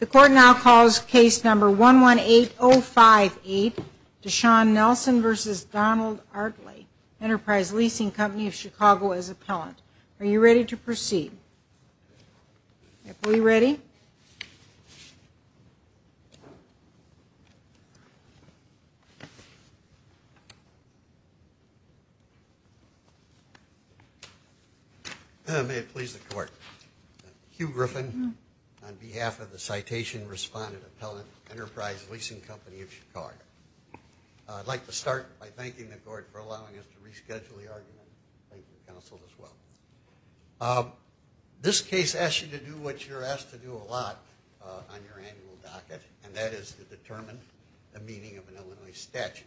The court now calls case number 118058 Deshaun Nelson v. Donald Artley, Enterprise Leasing Company of Chicago, as appellant. Are you ready to proceed? Are we ready? May it please the court. Hugh Griffin on behalf of the citation respondent appellant, Enterprise Leasing Company of Chicago. I'd like to start by thanking the court for allowing us to reschedule the argument. Thank you, counsel, as well. This case asks you to do what you're asked to do a lot on your annual docket, and that is to determine the meaning of an Illinois statute.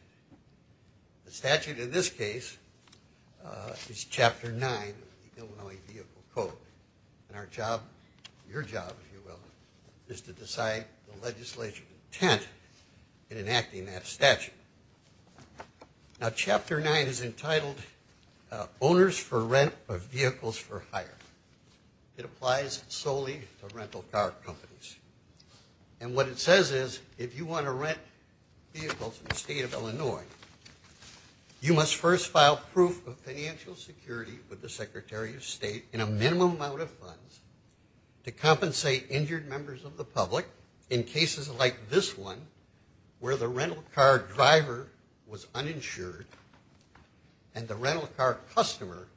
The statute in this case is Chapter 9 of the Illinois Vehicle Code, and our job, your job, if you will, is to decide the legislature's intent in enacting that statute. Now, Chapter 9 is entitled Owners for Rent of Vehicles for Hire. It applies solely to rental car companies. And what it says is, if you want to rent vehicles in the state of Illinois, you must first file proof of financial security with the Secretary of State in a minimum amount of funds to compensate injured members of the public in cases like this one, where the rental car driver was uninsured and the rental car customer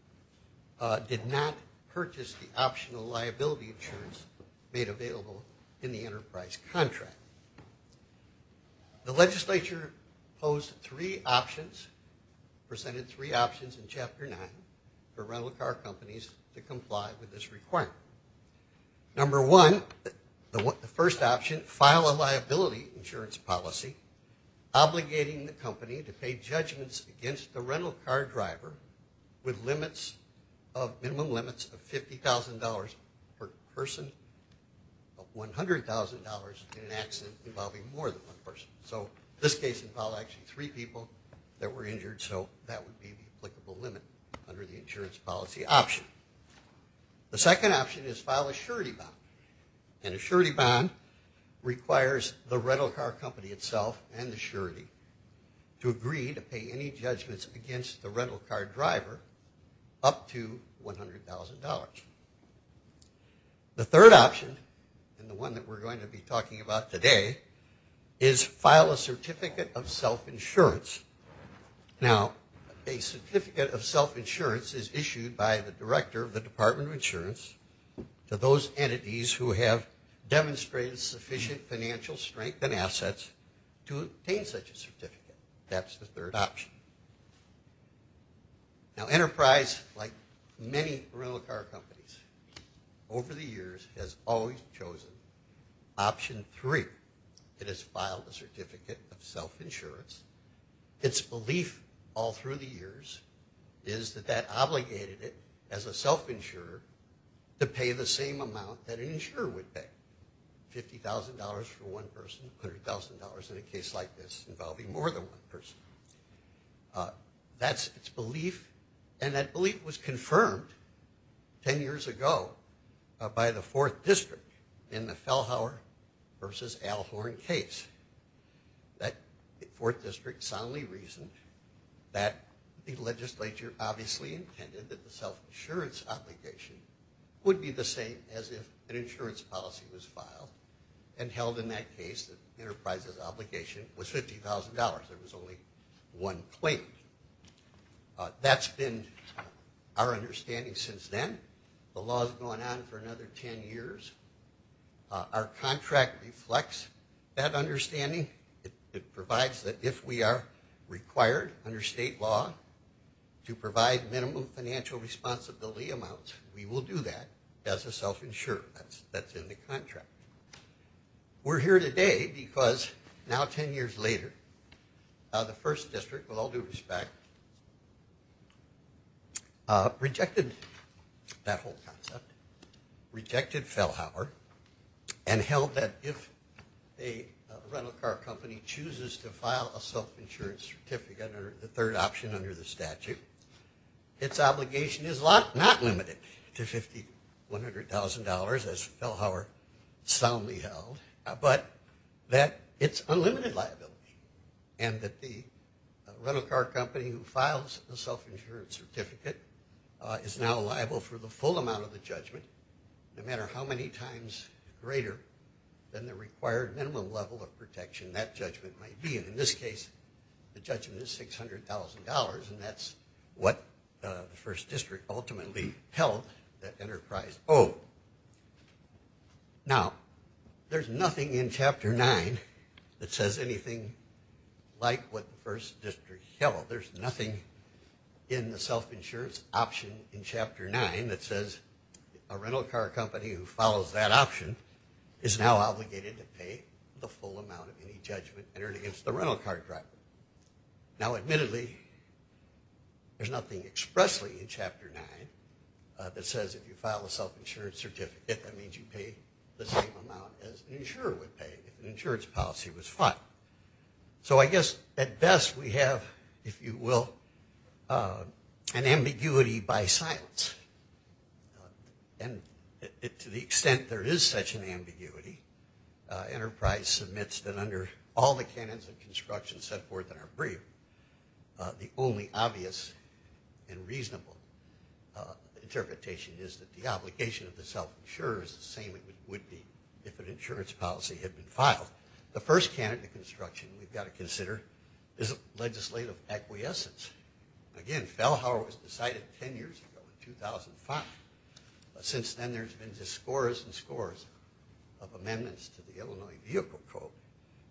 did not purchase the optional liability insurance made available in the enterprise contract. The legislature posed three options, presented three options in Chapter 9 for rental car companies to comply with this requirement. Number one, the first option, file a liability insurance policy obligating the company to pay judgments against the rental car driver with limits of, minimum limits of $50,000 per person of $100,000 in an accident involving more than one person. So this case involved actually three people that were injured, so that would be the applicable limit under the insurance policy option. The second option is file a surety bond. And a surety bond requires the rental car company itself and the surety to agree to pay any judgments against the rental car driver up to $100,000. The third option, and the one that we're going to be insurance to those entities who have demonstrated sufficient financial strength and assets to obtain such a certificate. That's the third option. Now enterprise, like many rental car companies, over the years has always chosen option three. It has chosen a self-insurer to pay the same amount that an insurer would pay, $50,000 for one person, $100,000 in a case like this involving more than one person. That's its belief, and that belief was confirmed ten years ago by the 4th District in the Fellhauer versus Alhorn case. That 4th District soundly reasoned that the legislature obviously intended that the self-insurance obligation would be the same as if an insurance policy was filed and held in that case that the enterprise's obligation was $50,000. There was only one claim. That's been our understanding since then. The law has gone on for another ten years. Our contract reflects that understanding. It provides that if we are required under state law to provide minimum financial responsibility amounts, we will do that as a self-insurer. That's in the contract. We're here today because now ten years later the 1st District, with all due respect, rejected that whole concept, rejected Fellhauer, and held that if a is not limited to $50,000, $100,000, as Fellhauer soundly held, but that it's unlimited liability, and that the rental car company who files the self-insurance certificate is now liable for the full amount of the judgment, no matter how many times greater than the 1st District ultimately held that enterprise owed. Now, there's nothing in Chapter 9 that says anything like what the 1st District held. There's nothing in the self-insurance option in Chapter 9 that says a rental car company who follows that option is now that says if you file a self-insurance certificate, that means you pay the same amount as an insurer would pay if an insurance policy was So I guess at best we have, if you will, an ambiguity by silence. And to the extent there is such an ambiguity, enterprise submits that under all the canons of construction set forth in our brief, the only obvious and reasonable interpretation is that the obligation of the self-insurer is the same as it would be if an insurance policy had been filed. The first canon of construction we've got to consider is legislative acquiescence. Again, Fellhauer was decided ten years ago in 2005. Since then there's been just scores and scores of amendments to the Illinois Vehicle Code.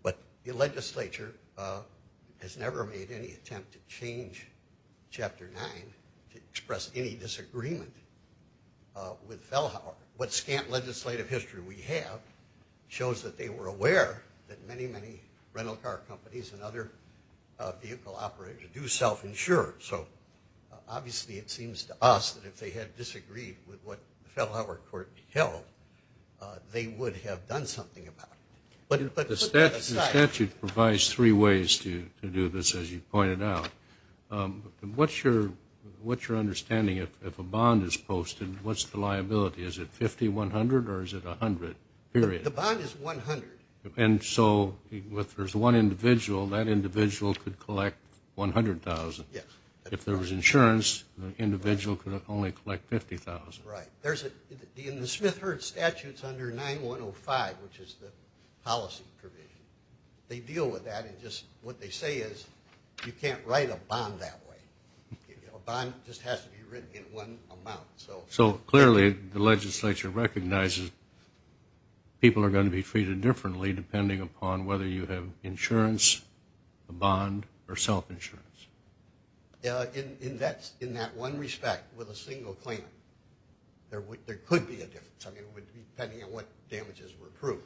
But the legislature has never made any attempt to change Chapter 9 to express any disagreement with Fellhauer. What scant legislative history we have shows that they were aware that many, many rental car companies and other vehicle operators do self-insure. So obviously it seems to us that if they had disagreed with what the Fellhauer court held, they would have done something about it. But put that aside... The statute provides three ways to do this, as you pointed out. What's your understanding if a bond is posted, what's the liability? Is it 50-100 or is it 100? The bond is 100. And so if there's one individual, that individual could collect $100,000. If there was insurance, the individual could only collect $50,000. Right. In the Smith-Hertz statute, it's under 9105, which is the policy provision. They deal with that. What they say is you can't write a bond that way. A bond just has to be written in one amount. So clearly the legislature recognizes people are going to be treated differently depending upon whether you have insurance, a bond, or self-insurance. In that one respect, with a single claim, there could be a difference, depending on what damages were approved.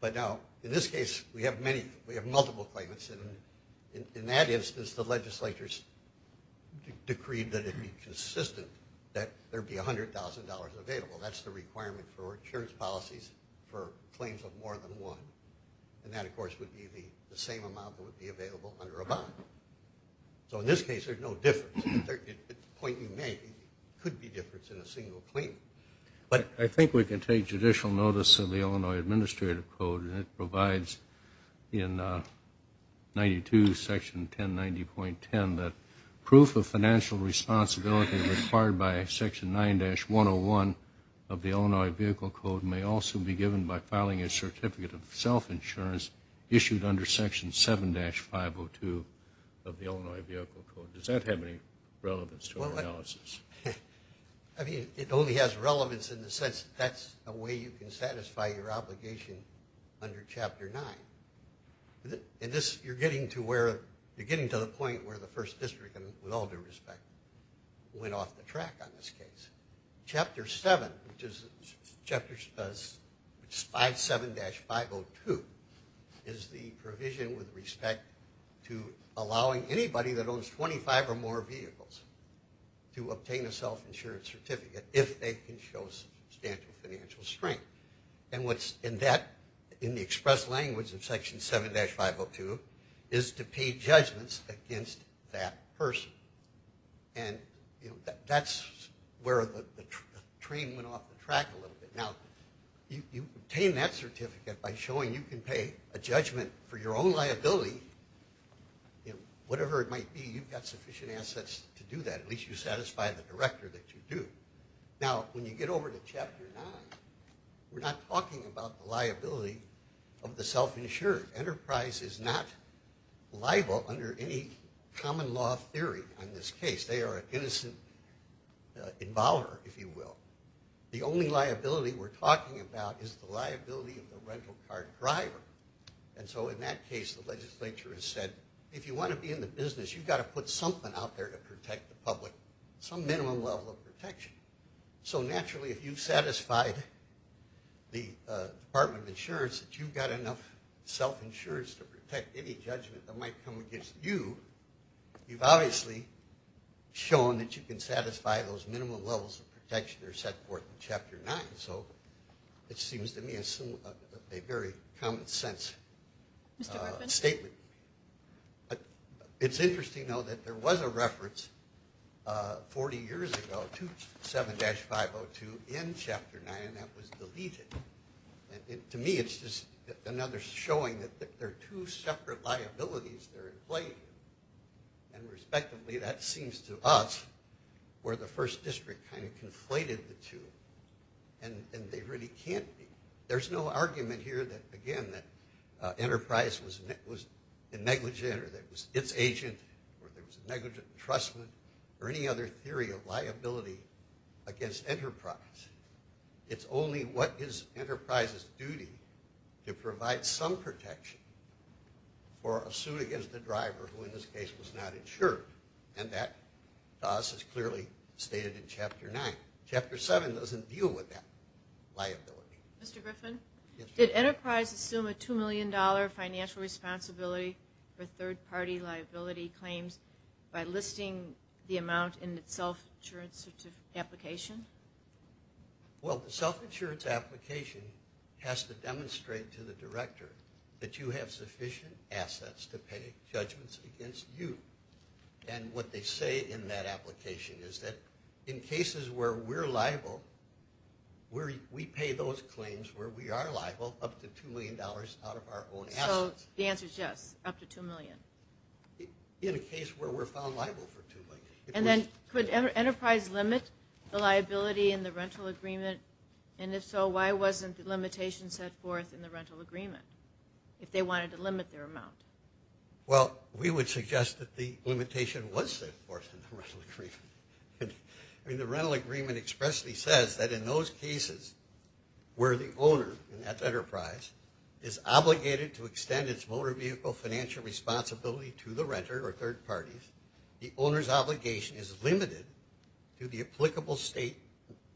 But now, in this case, we have multiple claimants. In that instance, the legislature has decreed that it be consistent that there be $100,000 available. That's the requirement for insurance policies for claims of more than one. And that, of course, would be the same amount that would be available under a bond. So in this case, there's no difference. At the point you make, there could be a difference in a single claim. I think we can take judicial notice of the Illinois Administrative Code, and it provides in 92, section 1090.10, that proof of financial responsibility required by section 9-101 of the Illinois Vehicle Code may also be given by filing a certificate of self-insurance issued under section 7-502 of the Illinois Vehicle Code. Does that have any relevance to our analysis? I mean, it only has relevance in the sense that that's a way you can satisfy your obligation under Chapter 9. You're getting to the point where the 1st District, with all due respect, went off the track on this case. Chapter 7, which is 57-502, is the provision with respect to allowing anybody that owns 25 or more vehicles to obtain a self-insurance certificate if they can show substantial financial strength. And what's in that, in the express language in section 7-502, is to pay judgments against that person. And that's where the train went off the track a little bit. Now, you obtain that certificate by showing you can pay a judgment for your own liability. Whatever it might be, you've got sufficient assets to do that. At least you satisfy the director that you do. Now, when you get over to Chapter 9, we're not talking about the liability of the self-insured. Enterprise is not liable under any common law theory on this case. They are an innocent involver, if you will. The only liability we're talking about is the liability of the rental car driver. And so in that case, the legislature has said, if you want to be in the business, you've got to put something out there to protect the public. Some minimum level of protection. So naturally, if you've satisfied the Department of Insurance that you've got enough self-insurance to protect any judgment that might come against you, you've obviously shown that you can satisfy those minimum levels of protection that are set forth in Chapter 9. So it seems to me a very common sense statement. It's interesting, though, that there was a reference 40 years ago to 7-502 in Chapter 9 that was deleted. To me, it's just another showing that there are two separate liabilities that are in play. And respectively, that seems to us where the first district kind of conflated the two, and they really can't be. There's no argument here that, again, that Enterprise was negligent or that it was its agent or there was negligent entrustment or any other theory of liability against Enterprise. It's only what is Enterprise's duty to provide some protection for a suit against a driver who, in this case, was not insured. And that, to us, is clearly stated in Chapter 9. Chapter 7 doesn't deal with that liability. Mr. Griffin, did Enterprise assume a $2 million financial responsibility for third-party liability claims by listing the amount in the self-insurance application? Well, the self-insurance application has to demonstrate to the director that you have sufficient assets to pay judgments against you. And what they say in that application is that in cases where we're liable, we pay those claims where we are liable up to $2 million out of our own assets. So the answer is yes, up to $2 million. In a case where we're found liable for $2 million. And then could Enterprise limit the liability in the rental agreement? And if so, why wasn't the limitation set forth in the rental agreement if they wanted to limit their amount? Well, we would suggest that the limitation was set forth in the rental agreement. I mean, the rental agreement expressly says that in those cases where the owner in that Enterprise is obligated to extend its motor vehicle financial responsibility to the renter or third parties, the owner's obligation is limited to the applicable state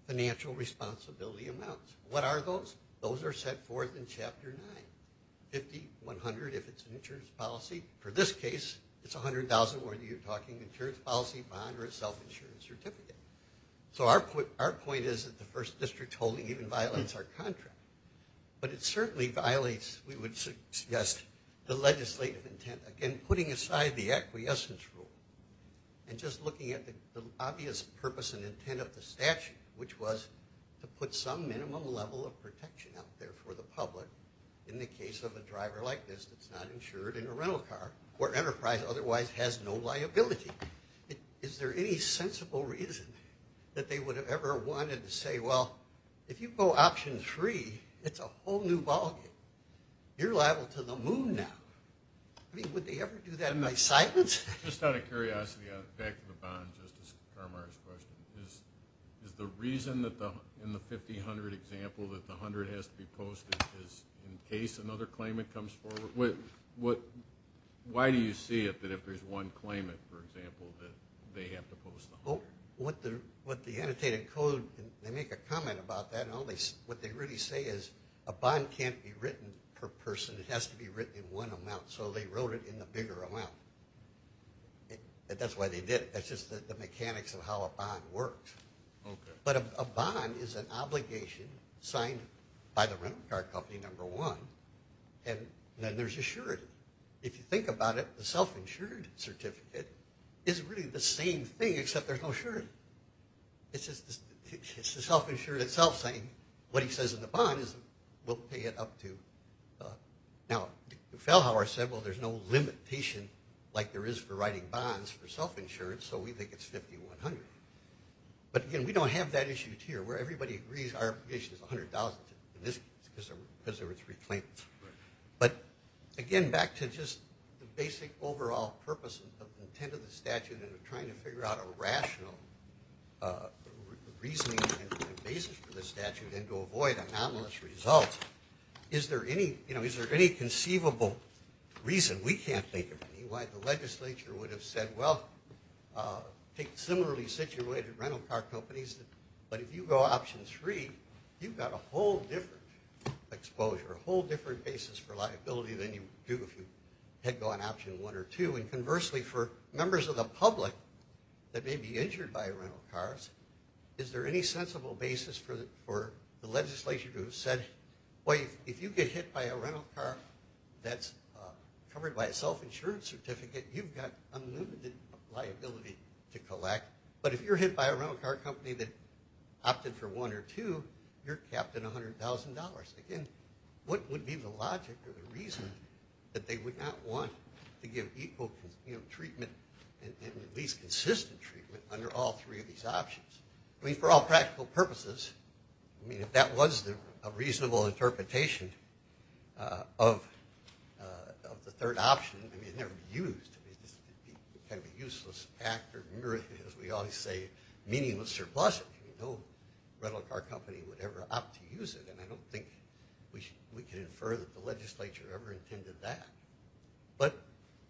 financial responsibility amounts. What are those? Those are set forth in Chapter 9, 50, 100 if it's an insurance policy. For this case, it's $100,000 whether you're talking insurance policy, bond, or a self-insurance certificate. So our point is that the first district holding even violates our contract. But it certainly violates, we would suggest, the legislative intent. Again, putting aside the acquiescence rule and just looking at the obvious purpose and intent of the statute, which was to put some minimum level of protection out there for the public in the case of a driver like this that's not insured in a rental car, where Enterprise otherwise has no liability. Is there any sensible reason that they would have ever wanted to say, well, if you go option three, it's a whole new ballgame. You're liable to the moon now. I mean, would they ever do that in my sight? Just out of curiosity, back to the bond, Justice Carmar's question. Is the reason in the 50, 100 example that the 100 has to be posted is in case another claimant comes forward? Why do you see it that if there's one claimant, for example, that they have to post the 100? What the annotated code, they make a comment about that. What they really say is a bond can't be written per person. It has to be written in one amount, so they wrote it in the bigger amount. That's why they did it. That's just the mechanics of how a bond works. But a bond is an obligation signed by the rental car company, number one, and then there's a surety. If you think about it, the self-insured certificate is really the same thing except there's no surety. It's the self-insured itself saying what he says in the bond is we'll pay it up to. Now, Fellhauer said, well, there's no limitation like there is for writing bonds for self-insurance, so we think it's 50, 100. But, again, we don't have that issue here where everybody agrees our obligation is $100,000, and this is because there were three claimants. But, again, back to just the basic overall purpose of the intent of the statute and trying to figure out a rational reasoning and basis for the statute and to avoid anomalous results. Is there any conceivable reason, we can't think of any, why the legislature would have said, well, take similarly situated rental car companies, but if you go option three, you've got a whole different exposure, a whole different basis for liability than you do if you had gone option one or two. And, conversely, for members of the public that may be injured by rental cars, is there any sensible basis for the legislature to have said, well, if you get hit by a rental car that's covered by a self-insurance certificate, you've got unlimited liability to collect. But if you're hit by a rental car company that opted for one or two, you're capped in $100,000. Again, what would be the logic or the reason that they would not want to give equal treatment and at least consistent treatment under all three of these options? I mean, for all practical purposes, I mean, if that was a reasonable interpretation of the third option, I mean, it would never be used. It would be kind of a useless act or, as we always say, meaningless or pleasant. I mean, no rental car company would ever opt to use it, and I don't think we can infer that the legislature ever intended that. But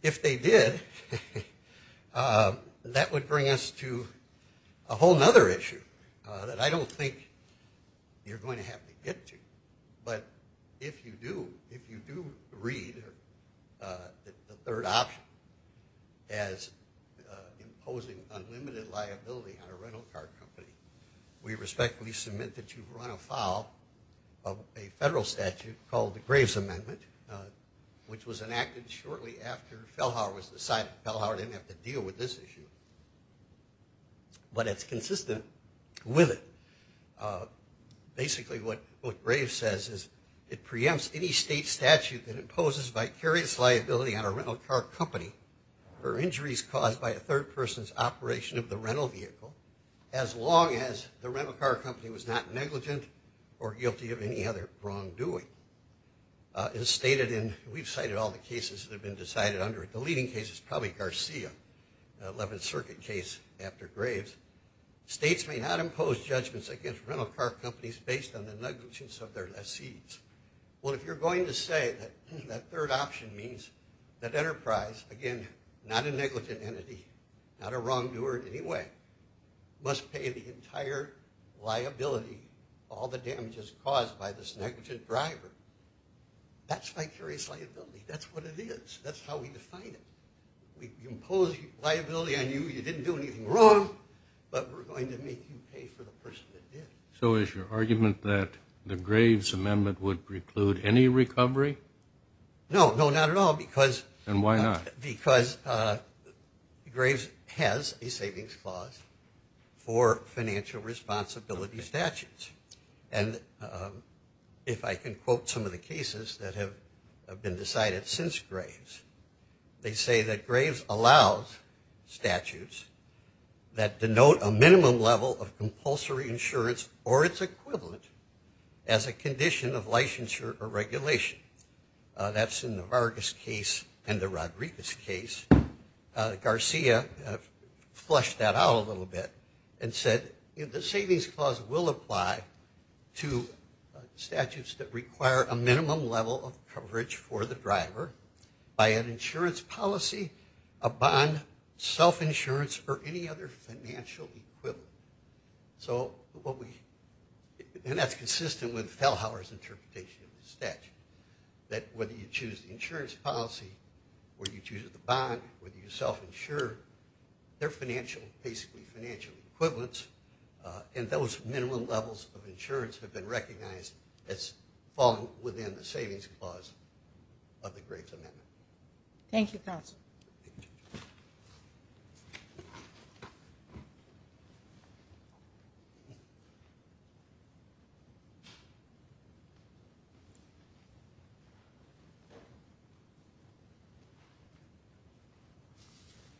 if they did, that would bring us to a whole other issue that I don't think you're going to have to get to. But if you do read the third option as imposing unlimited liability on a rental car company, we respectfully submit that you run afoul of a federal statute called the Graves Amendment, which was enacted shortly after Fellhauer was decided. Fellhauer didn't have to deal with this issue. But it's consistent with it. Basically, what Graves says is, it preempts any state statute that imposes vicarious liability on a rental car company for injuries caused by a third person's operation of the rental vehicle, as long as the rental car company was not negligent or guilty of any other wrongdoing. It is stated in, we've cited all the cases that have been decided under it. The leading case is probably Garcia, the 11th Circuit case after Graves. States may not impose judgments against rental car companies based on the negligence of their lessees. Well, if you're going to say that that third option means that Enterprise, again, not a negligent entity, not a wrongdoer in any way, must pay the entire liability, all the damages caused by this negligent driver, that's vicarious liability. That's what it is. That's how we define it. We impose liability on you, you didn't do anything wrong, but we're going to make you pay for the person that did. So is your argument that the Graves Amendment would preclude any recovery? No, no, not at all. And why not? Because Graves has a savings clause for financial responsibility statutes. And if I can quote some of the cases that have been decided since Graves, they say that Graves allows statutes that denote a minimum level of compulsory insurance or its equivalent as a condition of licensure or regulation. That's in the Vargas case and the Rodriguez case. Garcia flushed that out a little bit and said the savings clause will apply to statutes that require a minimum level of coverage for the driver by an insurance policy, a bond, self-insurance, or any other financial equivalent. And that's consistent with Fellhauer's interpretation of the statute, that whether you choose the insurance policy or you choose the bond, whether you self-insure, they're basically financial equivalents, and those minimum levels of insurance have been recognized as falling within the savings clause of the Graves Amendment. Thank you, Counsel.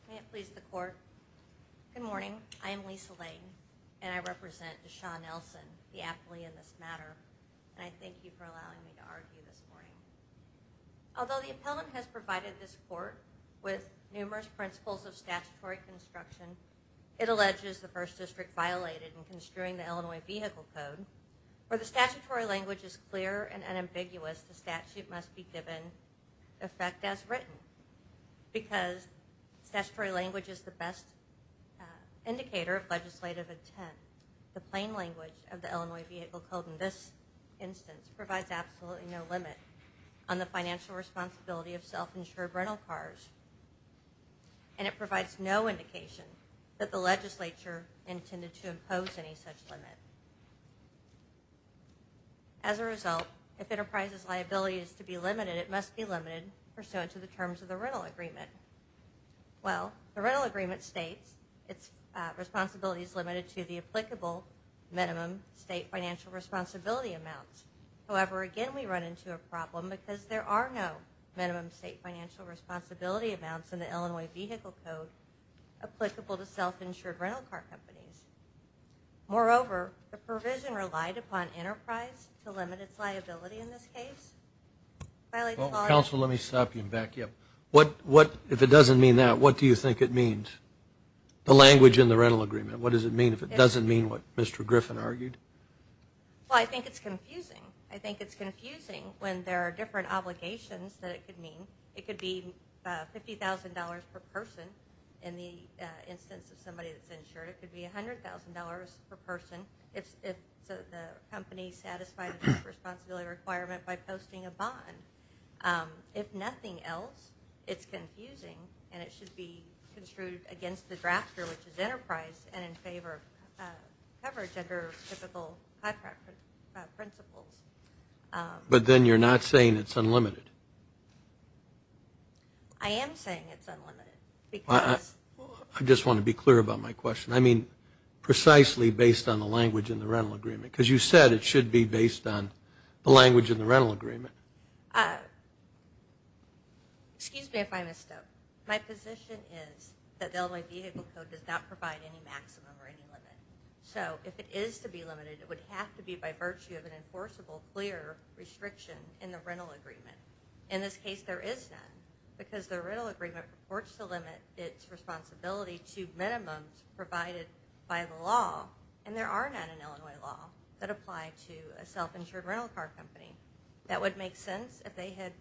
May it please the Court. Good morning. I am Lisa Lane, and I represent Deshaun Nelson, the appellee in this matter, and I thank you for allowing me to argue this morning. Although the appellant has provided this Court with numerous principles of statutory construction, it alleges the 1st District violated in construing the Illinois Vehicle Code where the statutory language is clear and unambiguous, the statute must be given effect as written because statutory language is the best indicator of legislative intent. The plain language of the Illinois Vehicle Code in this instance provides absolutely no limit on the financial responsibility of self-insured rental cars, and it provides no indication that the legislature intended to impose any such limit. As a result, if an enterprise's liability is to be limited, it must be limited pursuant to the terms of the rental agreement. Well, the rental agreement states its responsibility is limited to the applicable minimum state financial responsibility amounts. However, again, we run into a problem because there are no minimum state financial responsibility amounts in the Illinois Vehicle Code applicable to self-insured rental car companies. Moreover, the provision relied upon enterprise to limit its liability in this case. Counsel, let me stop you and back you up. If it doesn't mean that, what do you think it means? The language in the rental agreement, what does it mean if it doesn't mean what Mr. Griffin argued? Well, I think it's confusing. I think it's confusing when there are different obligations that it could mean. It could be $50,000 per person in the instance of somebody that's insured. It could be $100,000 per person if the company satisfied a responsibility requirement by posting a bond. If nothing else, it's confusing, and it should be construed against the drafter, which is enterprise, and in favor of coverage under typical contract principles. But then you're not saying it's unlimited? I am saying it's unlimited because – I just want to be clear about my question. I mean precisely based on the language in the rental agreement because you said it should be based on the language in the rental agreement. Excuse me if I messed up. My position is that the Illinois Vehicle Code does not provide any maximum or any limit. So if it is to be limited, it would have to be by virtue of an enforceable, clear restriction in the rental agreement. In this case, there is none because the rental agreement purports to limit its responsibility to minimums provided by the law, and there are none in Illinois law that apply to a self-insured rental car company. That would make sense if they had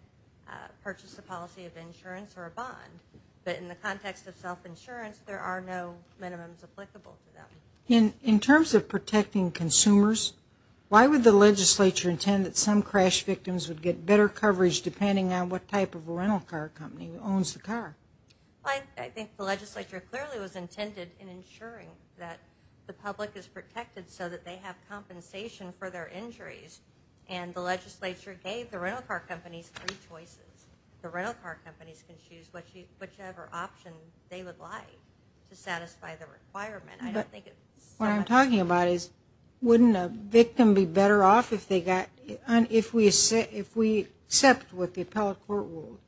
purchased a policy of insurance or a bond. But in the context of self-insurance, there are no minimums applicable to them. In terms of protecting consumers, why would the legislature intend that some crash victims would get better coverage depending on what type of rental car company owns the car? I think the legislature clearly was intended in ensuring that the public is protected so that they have compensation for their injuries, and the legislature gave the rental car companies three choices. The rental car companies can choose whichever option they would like to satisfy the requirement. What I'm talking about is wouldn't a victim be better off if they got – if we accept what the appellate court ruled,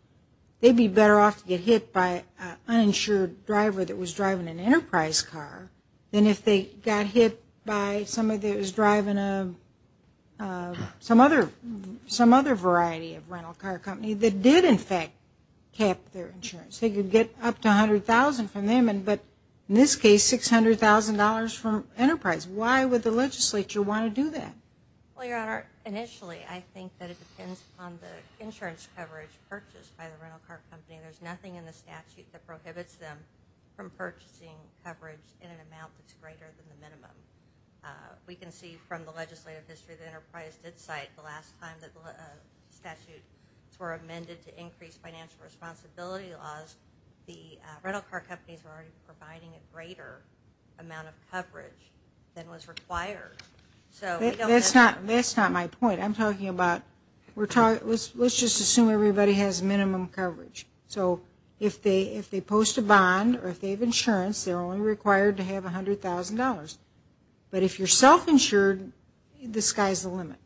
they'd be better off to get hit by an uninsured driver that was driving an enterprise car than if they got hit by somebody that was driving some other variety of rental car company that did, in fact, cap their insurance. They could get up to $100,000 from them, but in this case, $600,000 from enterprise. Why would the legislature want to do that? Well, Your Honor, initially I think that it depends on the insurance coverage purchased by the rental car company. There's nothing in the statute that prohibits them from purchasing coverage in an amount that's greater than the minimum. We can see from the legislative history the enterprise did cite the last time that statutes were amended to increase financial responsibility laws, the rental car companies were already providing a greater amount of coverage than was required. That's not my point. I'm talking about – let's just assume everybody has minimum coverage. So if they post a bond or if they have insurance, they're only required to have $100,000. But if you're self-insured, the sky's the limit.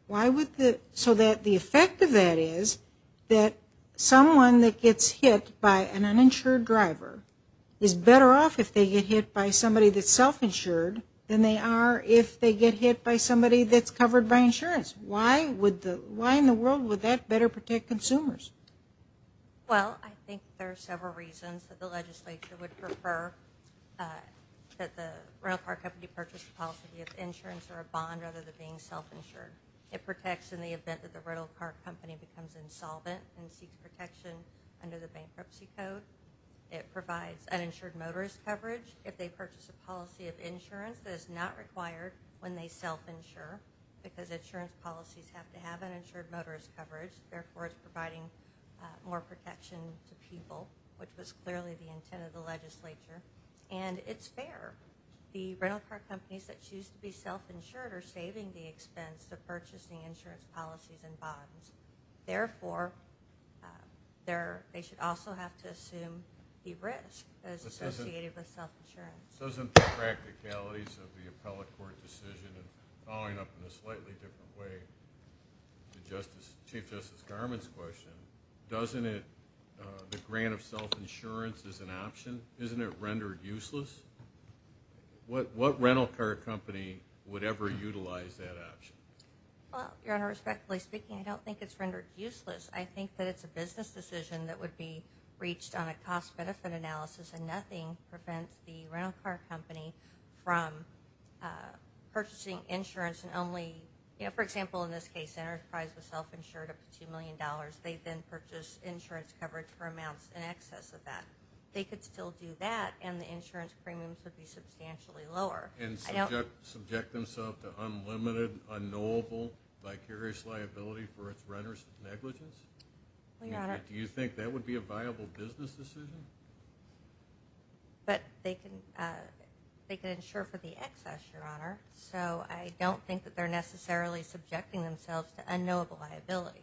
So the effect of that is that someone that gets hit by an uninsured driver is better off if they get hit by somebody that's self-insured than they are if they get hit by somebody that's covered by insurance. Why in the world would that better protect consumers? Well, I think there are several reasons that the legislature would prefer that the rental car company purchase a policy of insurance or a bond rather than being self-insured. It protects in the event that the rental car company becomes insolvent and seeks protection under the bankruptcy code. It provides uninsured motorist coverage. If they purchase a policy of insurance, that is not required when they self-insure because insurance policies have to have uninsured motorist coverage. Therefore, it's providing more protection to people, which was clearly the intent of the legislature. And it's fair. The rental car companies that choose to be self-insured are saving the expense of purchasing insurance policies and bonds. Therefore, they should also have to assume the risk as associated with self-insurance. Doesn't the practicalities of the appellate court decision, following up in a slightly different way to Chief Justice Garmon's question, doesn't the grant of self-insurance as an option, isn't it rendered useless? What rental car company would ever utilize that option? Well, Your Honor, respectfully speaking, I don't think it's rendered useless. I think that it's a business decision that would be reached on a cost-benefit analysis, and nothing prevents the rental car company from purchasing insurance and only, you know, for example, in this case, Enterprise was self-insured up to $2 million. They then purchased insurance coverage for amounts in excess of that. They could still do that, and the insurance premiums would be substantially lower. And subject themselves to unlimited, unknowable, vicarious liability for its renters' negligence? Well, Your Honor. Do you think that would be a viable business decision? But they can insure for the excess, Your Honor, so I don't think that they're necessarily subjecting themselves to unknowable liability.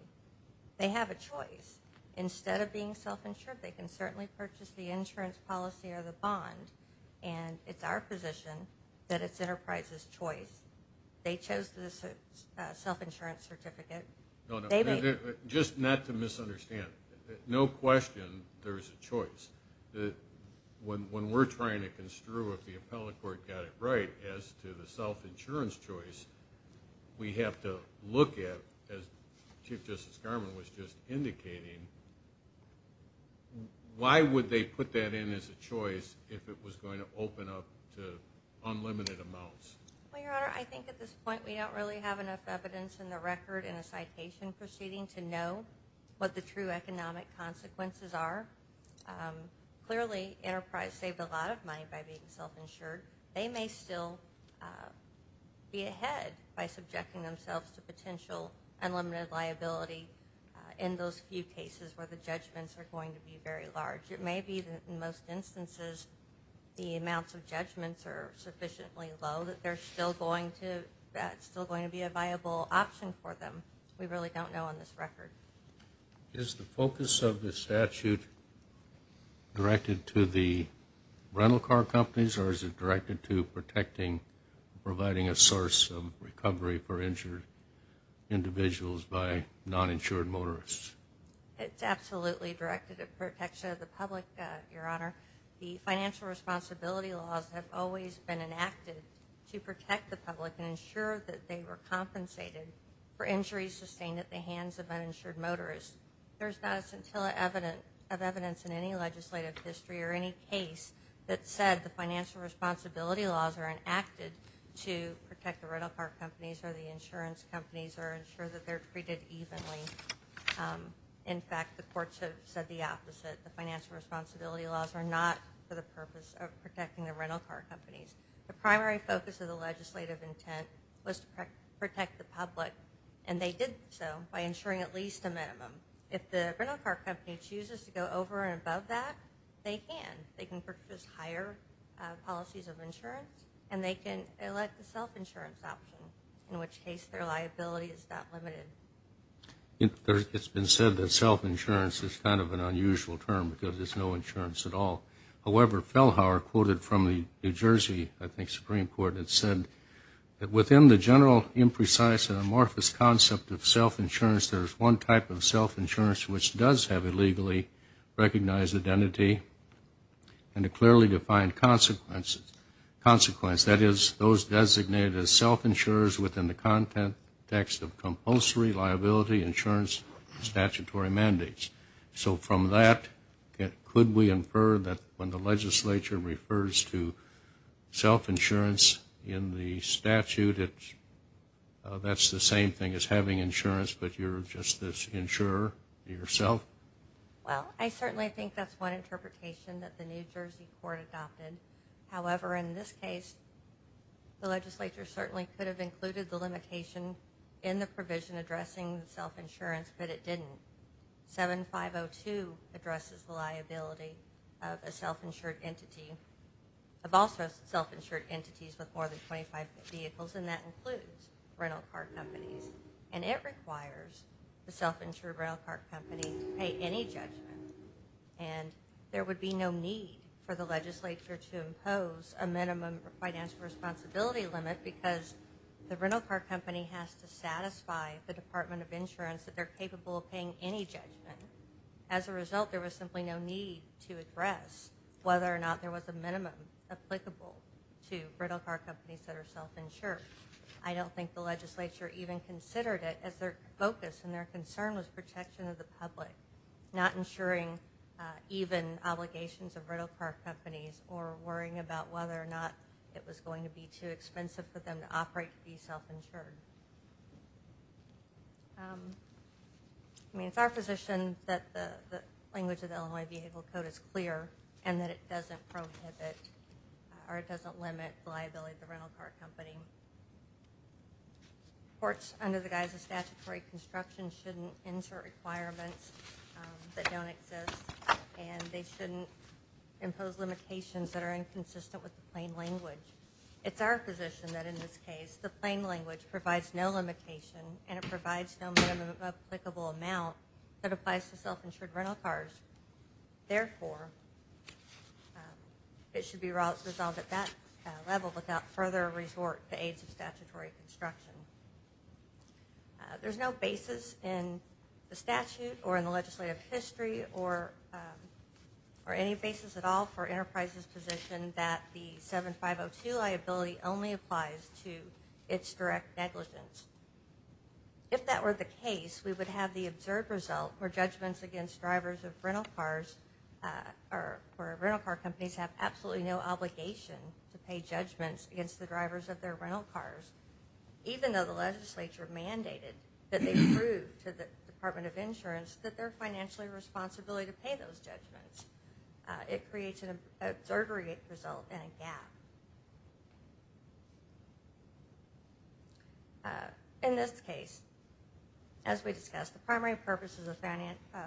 They have a choice. Instead of being self-insured, they can certainly purchase the insurance policy or the bond, and it's our position that it's Enterprise's choice. They chose the self-insurance certificate. No, no. They made it. Just not to misunderstand, no question there's a choice. When we're trying to construe if the appellate court got it right as to the self-insurance choice, we have to look at, as Chief Justice Garmon was just indicating, why would they put that in as a choice if it was going to open up to unlimited amounts? Well, Your Honor, I think at this point we don't really have enough evidence in the record in a citation proceeding to know what the true economic consequences are. Clearly, Enterprise saved a lot of money by being self-insured. They may still be ahead by subjecting themselves to potential unlimited liability in those few cases where the judgments are going to be very large. It may be that in most instances the amounts of judgments are sufficiently low that there's still going to be a viable option for them. We really don't know on this record. Is the focus of the statute directed to the rental car companies or is it directed to providing a source of recovery for injured individuals by non-insured motorists? It's absolutely directed at protection of the public, Your Honor. The financial responsibility laws have always been enacted to protect the public and ensure that they were compensated for injuries sustained at the hands of uninsured motorists. There's not a scintilla of evidence in any legislative history or any case that said the financial responsibility laws are enacted to protect the rental car companies or the insurance companies or ensure that they're treated evenly. In fact, the courts have said the opposite. The financial responsibility laws are not for the purpose of protecting the rental car companies. The primary focus of the legislative intent was to protect the public, and they did so by ensuring at least a minimum. If the rental car company chooses to go over and above that, they can. They can purchase higher policies of insurance, and they can elect a self-insurance option, in which case their liability is not limited. It's been said that self-insurance is kind of an unusual term because there's no insurance at all. However, Fellhauer quoted from the New Jersey, I think, Supreme Court, that said that within the general imprecise and amorphous concept of self-insurance, there's one type of self-insurance which does have a legally recognized identity and a clearly defined consequence. That is, those designated as self-insurers within the context of compulsory liability insurance statutory mandates. So from that, could we infer that when the legislature refers to self-insurance in the statute, that's the same thing as having insurance, but you're just this insurer yourself? Well, I certainly think that's one interpretation that the New Jersey court adopted. However, in this case, the legislature certainly could have included the limitation in the provision addressing self-insurance, but it didn't. 7502 addresses the liability of a self-insured entity, of also self-insured entities with more than 25 vehicles, and that includes rental car companies. And it requires the self-insured rental car company to pay any judgment, and there would be no need for the legislature to impose a minimum financial responsibility limit because the rental car company has to satisfy the Department of Insurance that they're capable of paying any judgment. As a result, there was simply no need to address whether or not there was a minimum applicable to rental car companies that are self-insured. I don't think the legislature even considered it as their focus, and their concern was protection of the public, not insuring even obligations of rental car companies or worrying about whether or not it was going to be too expensive for them to operate to be self-insured. I mean, it's our position that the language of the Illinois Vehicle Code is clear and that it doesn't prohibit or it doesn't limit liability of the rental car company. Courts, under the guise of statutory construction, shouldn't insert requirements that don't exist, and they shouldn't impose limitations that are inconsistent with the plain language. It's our position that, in this case, the plain language provides no limitation, and it provides no minimum applicable amount that applies to self-insured rental cars. Therefore, it should be resolved at that level without further resort to aides of statutory construction. There's no basis in the statute or in the legislative history or any basis at all for Enterprise's position that the 7502 liability only applies to its direct negligence. If that were the case, we would have the observed result where judgments against drivers of rental cars or rental car companies have absolutely no obligation to pay judgments against the drivers of their rental cars, even though the legislature mandated that they prove to the Department of Insurance that they're financially responsible to pay those judgments. It creates an observed result and a gap. In this case, as we discussed, the primary purposes of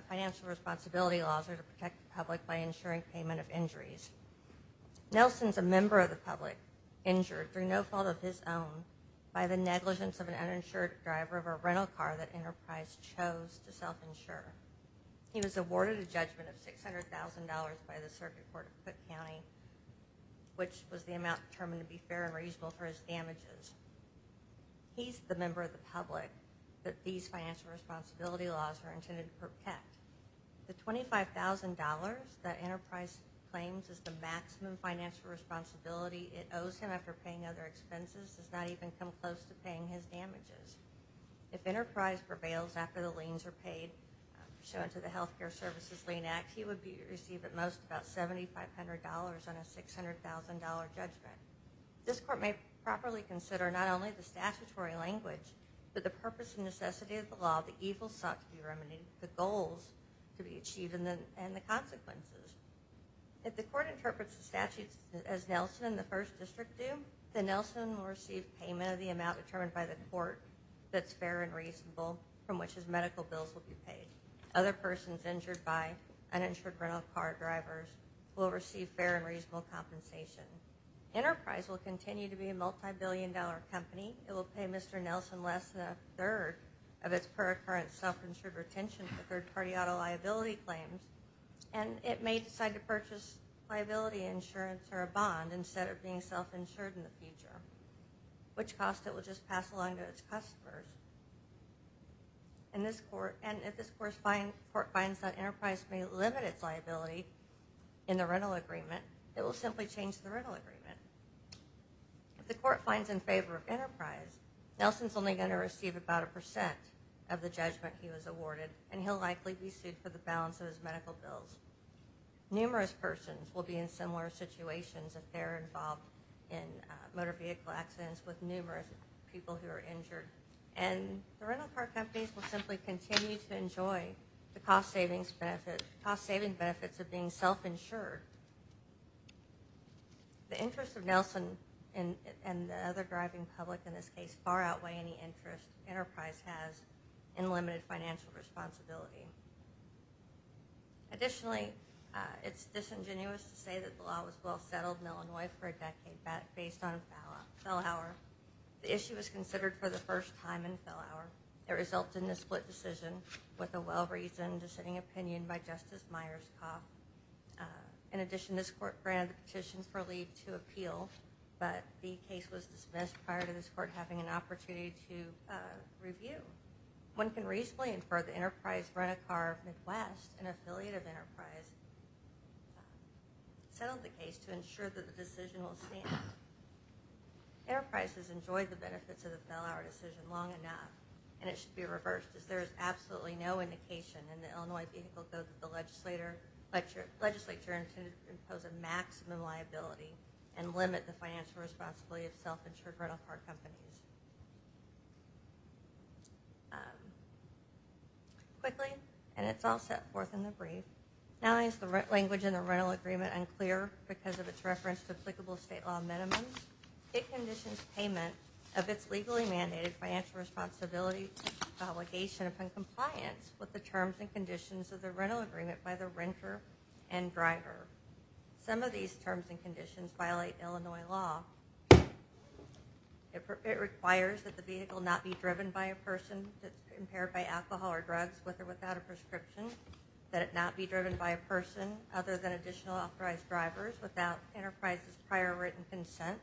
financial responsibility laws are to protect the public by insuring payment of injuries. Nelson's a member of the public, injured through no fault of his own by the negligence of an uninsured driver of a rental car that Enterprise chose to self-insure. He was awarded a judgment of $600,000 by the Circuit Court of Cook County, which was the amount determined to be fair and reasonable for his damages. He's the member of the public that these financial responsibility laws are intended to protect. The $25,000 that Enterprise claims is the maximum financial responsibility it owes him after paying other expenses does not even come close to paying his damages. If Enterprise prevails after the liens are paid, pursuant to the Health Care Services Lien Act, he would receive at most about $7,500 on a $600,000 judgment. This court may properly consider not only the statutory language, but the purpose and necessity of the law the evils sought to be remedied, the goals to be achieved, and the consequences. If the court interprets the statutes as Nelson and the First District do, then Nelson will receive payment of the amount determined by the court that's fair and reasonable from which his medical bills will be paid. Other persons injured by uninsured rental car drivers will receive fair and reasonable compensation. Enterprise will continue to be a multibillion-dollar company. It will pay Mr. Nelson less than a third of its per-occurrence self-insured retention for third-party auto liability claims, and it may decide to purchase liability insurance or a bond instead of being self-insured in the future, which cost it will just pass along to its customers. And if this court finds that Enterprise may limit its liability in the rental agreement, it will simply change the rental agreement. If the court finds in favor of Enterprise, Nelson's only going to receive about a percent of the judgment he was awarded, and he'll likely be sued for the balance of his medical bills. Numerous persons will be in similar situations if they're involved in motor vehicle accidents with numerous people who are injured, and the rental car companies will simply continue to enjoy the cost-saving benefits of being self-insured. The interests of Nelson and the other driving public in this case far outweigh any interest Enterprise has in limited financial responsibility. Additionally, it's disingenuous to say that the law was well-settled in Illinois for a decade based on Fell Hour. The issue was considered for the first time in Fell Hour. It resulted in a split decision with a well-reasoned dissenting opinion by Justice Myerscough. In addition, this court granted a petition for leave to appeal, but the case was dismissed prior to this court having an opportunity to review. One can reasonably infer that Enterprise Rent-A-Car Midwest, an affiliate of Enterprise, settled the case to ensure that the decision will stand. Enterprise has enjoyed the benefits of the Fell Hour decision long enough, and it should be reversed as there is absolutely no indication in the Illinois vehicle code that the legislature intended to impose a maximum liability and limit the financial responsibility of self-insured rental car companies. Quickly, and it's all set forth in the brief, now is the language in the rental agreement unclear because of its reference to applicable state law minimums? It conditions payment of its legally mandated financial responsibility obligation upon compliance with the terms and conditions of the rental agreement by the renter and driver. Some of these terms and conditions violate Illinois law. It requires that the vehicle not be driven by a person that's impaired by alcohol or drugs, with or without a prescription, that it not be driven by a person other than additional authorized drivers, without Enterprise's prior written consent,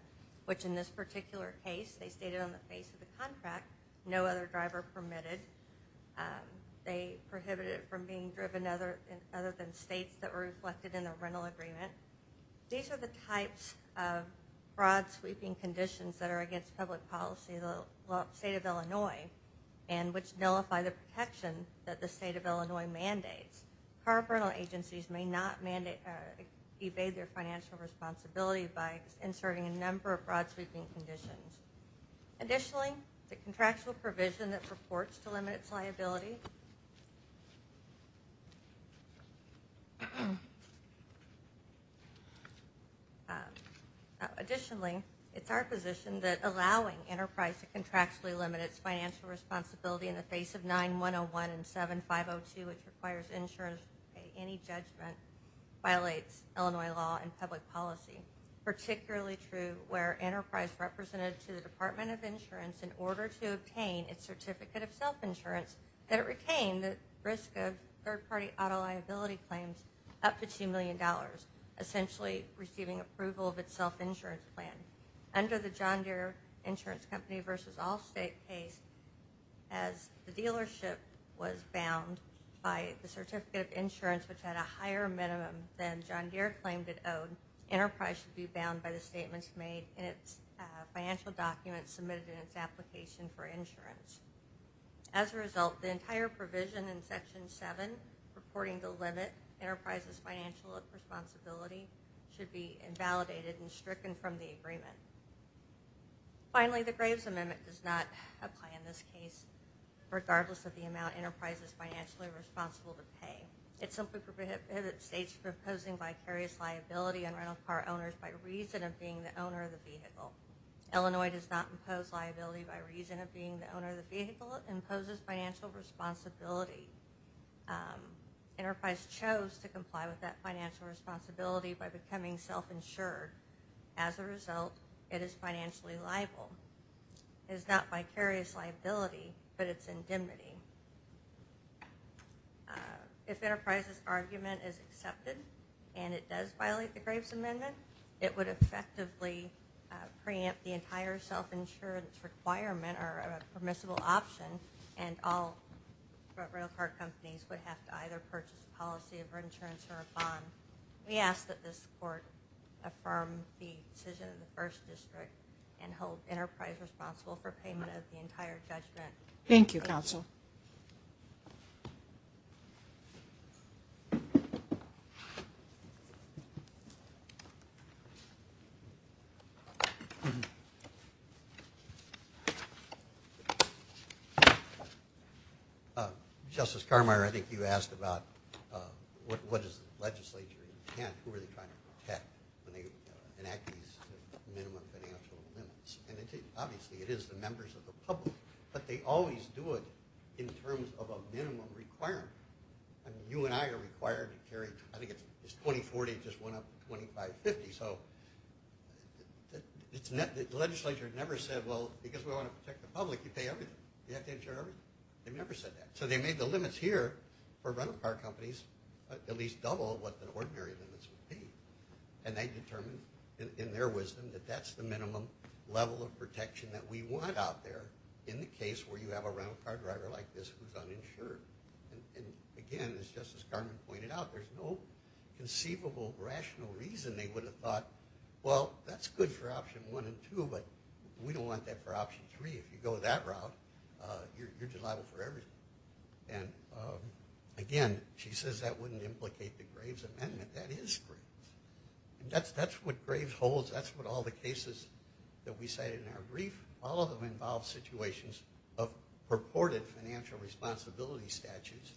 which in this particular case, they stated on the face of the contract, no other driver permitted. They prohibited it from being driven other than states that were reflected in the rental agreement. These are the types of fraud-sweeping conditions that are against public policy in the state of Illinois and which nullify the protection that the state of Illinois mandates. Car rental agencies may not evade their financial responsibility by inserting a number of fraud-sweeping conditions. Additionally, the contractual provision that purports to limit its liability. Additionally, it's our position that allowing Enterprise to contractually limit its financial responsibility in the face of 9-101 and 7-502, which requires insurance to pay any judgment, violates Illinois law and public policy. Particularly true where Enterprise represented to the Department of Insurance in order to obtain its certificate of self-insurance, that it retained the risk of third-party auto liability claims up to $2 million, essentially receiving approval of its self-insurance plan. Under the John Deere Insurance Company v. Allstate case, as the dealership was bound by the certificate of insurance, which had a higher minimum than John Deere claimed it owed, Enterprise should be bound by the statements made in its financial documents submitted in its application for insurance. As a result, the entire provision in Section 7, purporting to limit Enterprise's financial responsibility, should be invalidated and stricken from the agreement. Finally, the Graves Amendment does not apply in this case, regardless of the amount Enterprise is financially responsible to pay. It simply prohibits States from imposing vicarious liability on rental car owners by reason of being the owner of the vehicle. Illinois does not impose liability by reason of being the owner of the vehicle. It imposes financial responsibility. Enterprise chose to comply with that financial responsibility by becoming self-insured. As a result, it is financially liable. It is not vicarious liability, but it's indemnity. If Enterprise's argument is accepted and it does violate the Graves Amendment, it would effectively preempt the entire self-insurance requirement or a permissible option, and all rental car companies would have to either purchase a policy of insurance or a bond. We ask that this Court affirm the decision of the First District and hold Enterprise responsible for payment of the entire judgment. Thank you, Counsel. Justice Carmeier, I think you asked about what does the legislature intend? Who are they trying to protect when they enact these minimum financial limits? Obviously, it is the members of the public, but they always do it in terms of a minimum requirement. You and I are required to carry, I think it's 2040, it just went up to 2550. So the legislature never said, well, because we want to protect the public, you pay everything, you have to insure everything. They never said that. So they made the limits here for rental car companies at least double what the ordinary limits would be. And they determined in their wisdom that that's the minimum level of protection that we want out there in the case where you have a rental car driver like this who's uninsured. And, again, it's just as Carmen pointed out, there's no conceivable rational reason they would have thought, well, that's good for option one and two, but we don't want that for option three. If you go that route, you're just liable for everything. And, again, she says that wouldn't implicate the Graves Amendment. That is Graves. That's what Graves holds. That's what all the cases that we cited in our brief, all of them involve situations of purported financial responsibility statutes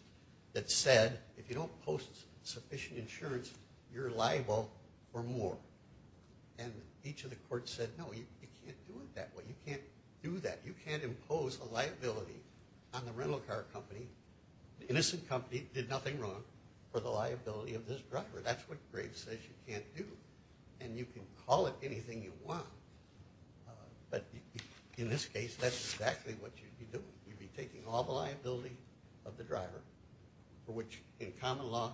that said if you don't post sufficient insurance, you're liable for more. And each of the courts said, no, you can't do it that way. You can't do that. You can't impose a liability on the rental car company. The innocent company did nothing wrong for the liability of this driver. That's what Graves says you can't do. And you can call it anything you want. But in this case, that's exactly what you'd be doing. You'd be taking all the liability of the driver for which, in common law,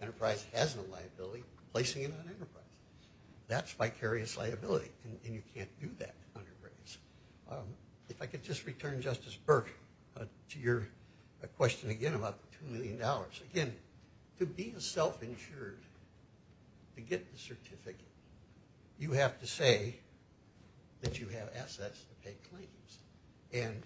enterprise has no liability, placing it on enterprises. That's vicarious liability, and you can't do that under Graves. If I could just return, Justice Burke, to your question again about $2 million. Again, to be self-insured, to get the certificate, you have to say that you have assets to pay claims. And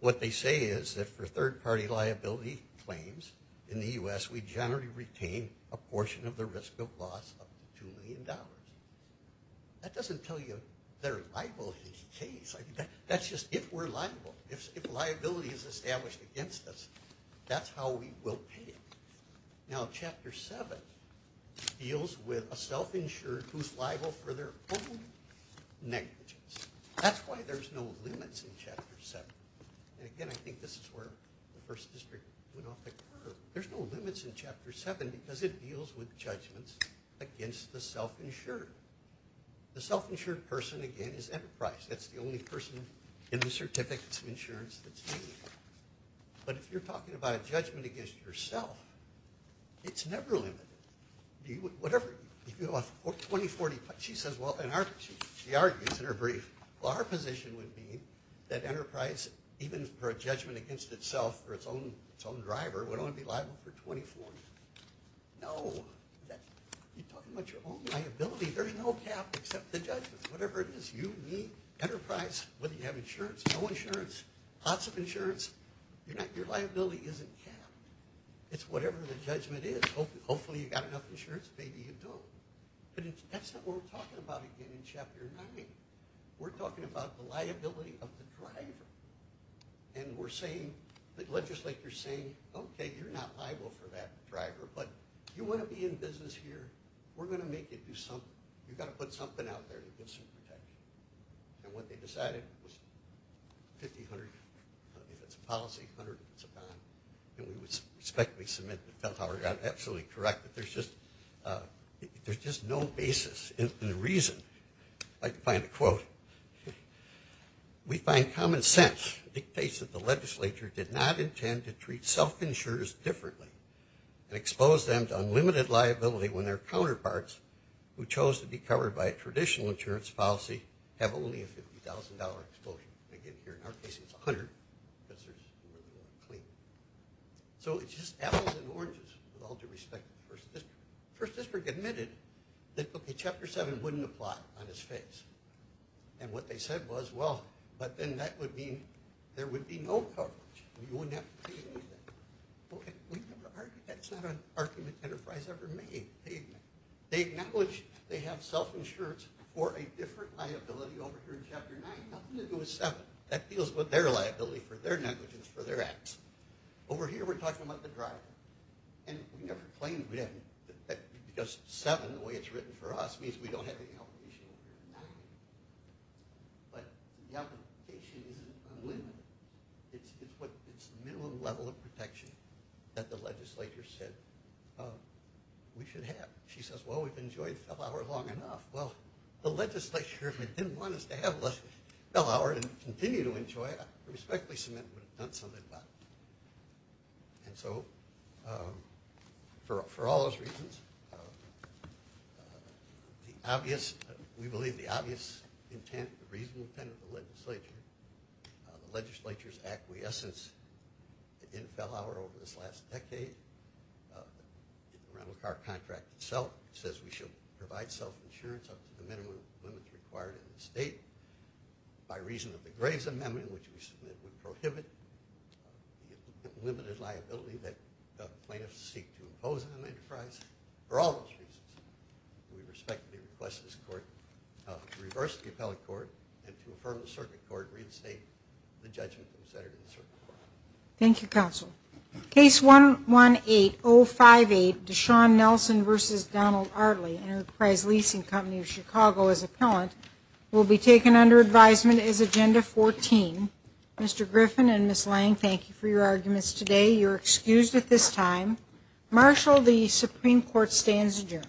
what they say is that for third-party liability claims in the U.S., we generally retain a portion of the risk of loss up to $2 million. That doesn't tell you they're liable in any case. That's just if we're liable. If liability is established against us, that's how we will pay it. Now, Chapter 7 deals with a self-insured who's liable for their own negligence. That's why there's no limits in Chapter 7. And again, I think this is where the First District went off the curve. There's no limits in Chapter 7 because it deals with judgments against the self-insured. The self-insured person, again, is enterprise. That's the only person in the certificates of insurance that's liable. But if you're talking about a judgment against yourself, it's never limited. Whatever. She argues in her brief, well, our position would be that enterprise, even for a judgment against itself or its own driver, would only be liable for 24. No. You're talking about your own liability. There's no cap except the judgment. Whatever it is, you, me, enterprise, whether you have insurance, no insurance, lots of insurance, your liability isn't capped. It's whatever the judgment is. Hopefully you've got enough insurance. Maybe you don't. But that's not what we're talking about again in Chapter 9. We're talking about the liability of the driver. And we're saying, the legislature's saying, okay, you're not liable for that driver, but you want to be in business here, we're going to make you do something. You've got to put something out there to get some protection. And what they decided was 50-100, if it's a policy, 100 if it's a bond. And we would respectfully submit that Feldhauer got absolutely correct. There's just no basis in the reason. I'd like to find a quote. We find common sense dictates that the legislature did not intend to treat self-insurers differently and expose them to unlimited liability when their counterparts, who chose to be covered by a traditional insurance policy, have only a $50,000 exposure. Again, here in our case it's $100,000 because they're clean. So it's just apples and oranges with all due respect to the 1st District. The 1st District admitted that, okay, Chapter 7 wouldn't apply on its face. And what they said was, well, but then that would mean there would be no coverage. You wouldn't have to pay anything. That's not an argument Enterprise ever made. They acknowledge they have self-insurance for a different liability over here in Chapter 9. Nothing to do with 7. That deals with their liability for their negligence for their acts. Over here we're talking about the driver. And we never claimed that because 7, the way it's written for us, means we don't have any obligation over here in 9. But the obligation isn't unlimited. It's the minimum level of protection that the legislature said we should have. She says, well, we've enjoyed Feldhauer long enough. Well, the legislature, if they didn't want us to have Feldhauer and continue to enjoy it, I respectfully submit we would have done something about it. And so for all those reasons, the obvious, we believe the obvious intent, the reasonable intent of the legislature, the legislature's acquiescence in Feldhauer over this last decade, the rental car contract itself says we should provide self-insurance up to the minimum limits required in the state by reason of the Graves Amendment, which we submit would prohibit the limited liability that plaintiffs seek to impose on Enterprise. For all those reasons, we respectfully request this Court to reverse the appellate court and to affirm the circuit court and reinstate the judgment of the senator in the circuit court. Thank you, Counsel. Case 118058, Deshaun Nelson v. Donald Artley, Enterprise Leasing Company of Chicago, as appellant, will be taken under advisement as Agenda 14. Mr. Griffin and Ms. Lange, thank you for your arguments today. You're excused at this time. Marshall, the Supreme Court stands adjourned.